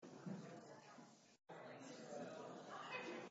For more information, visit www.FEMA.gov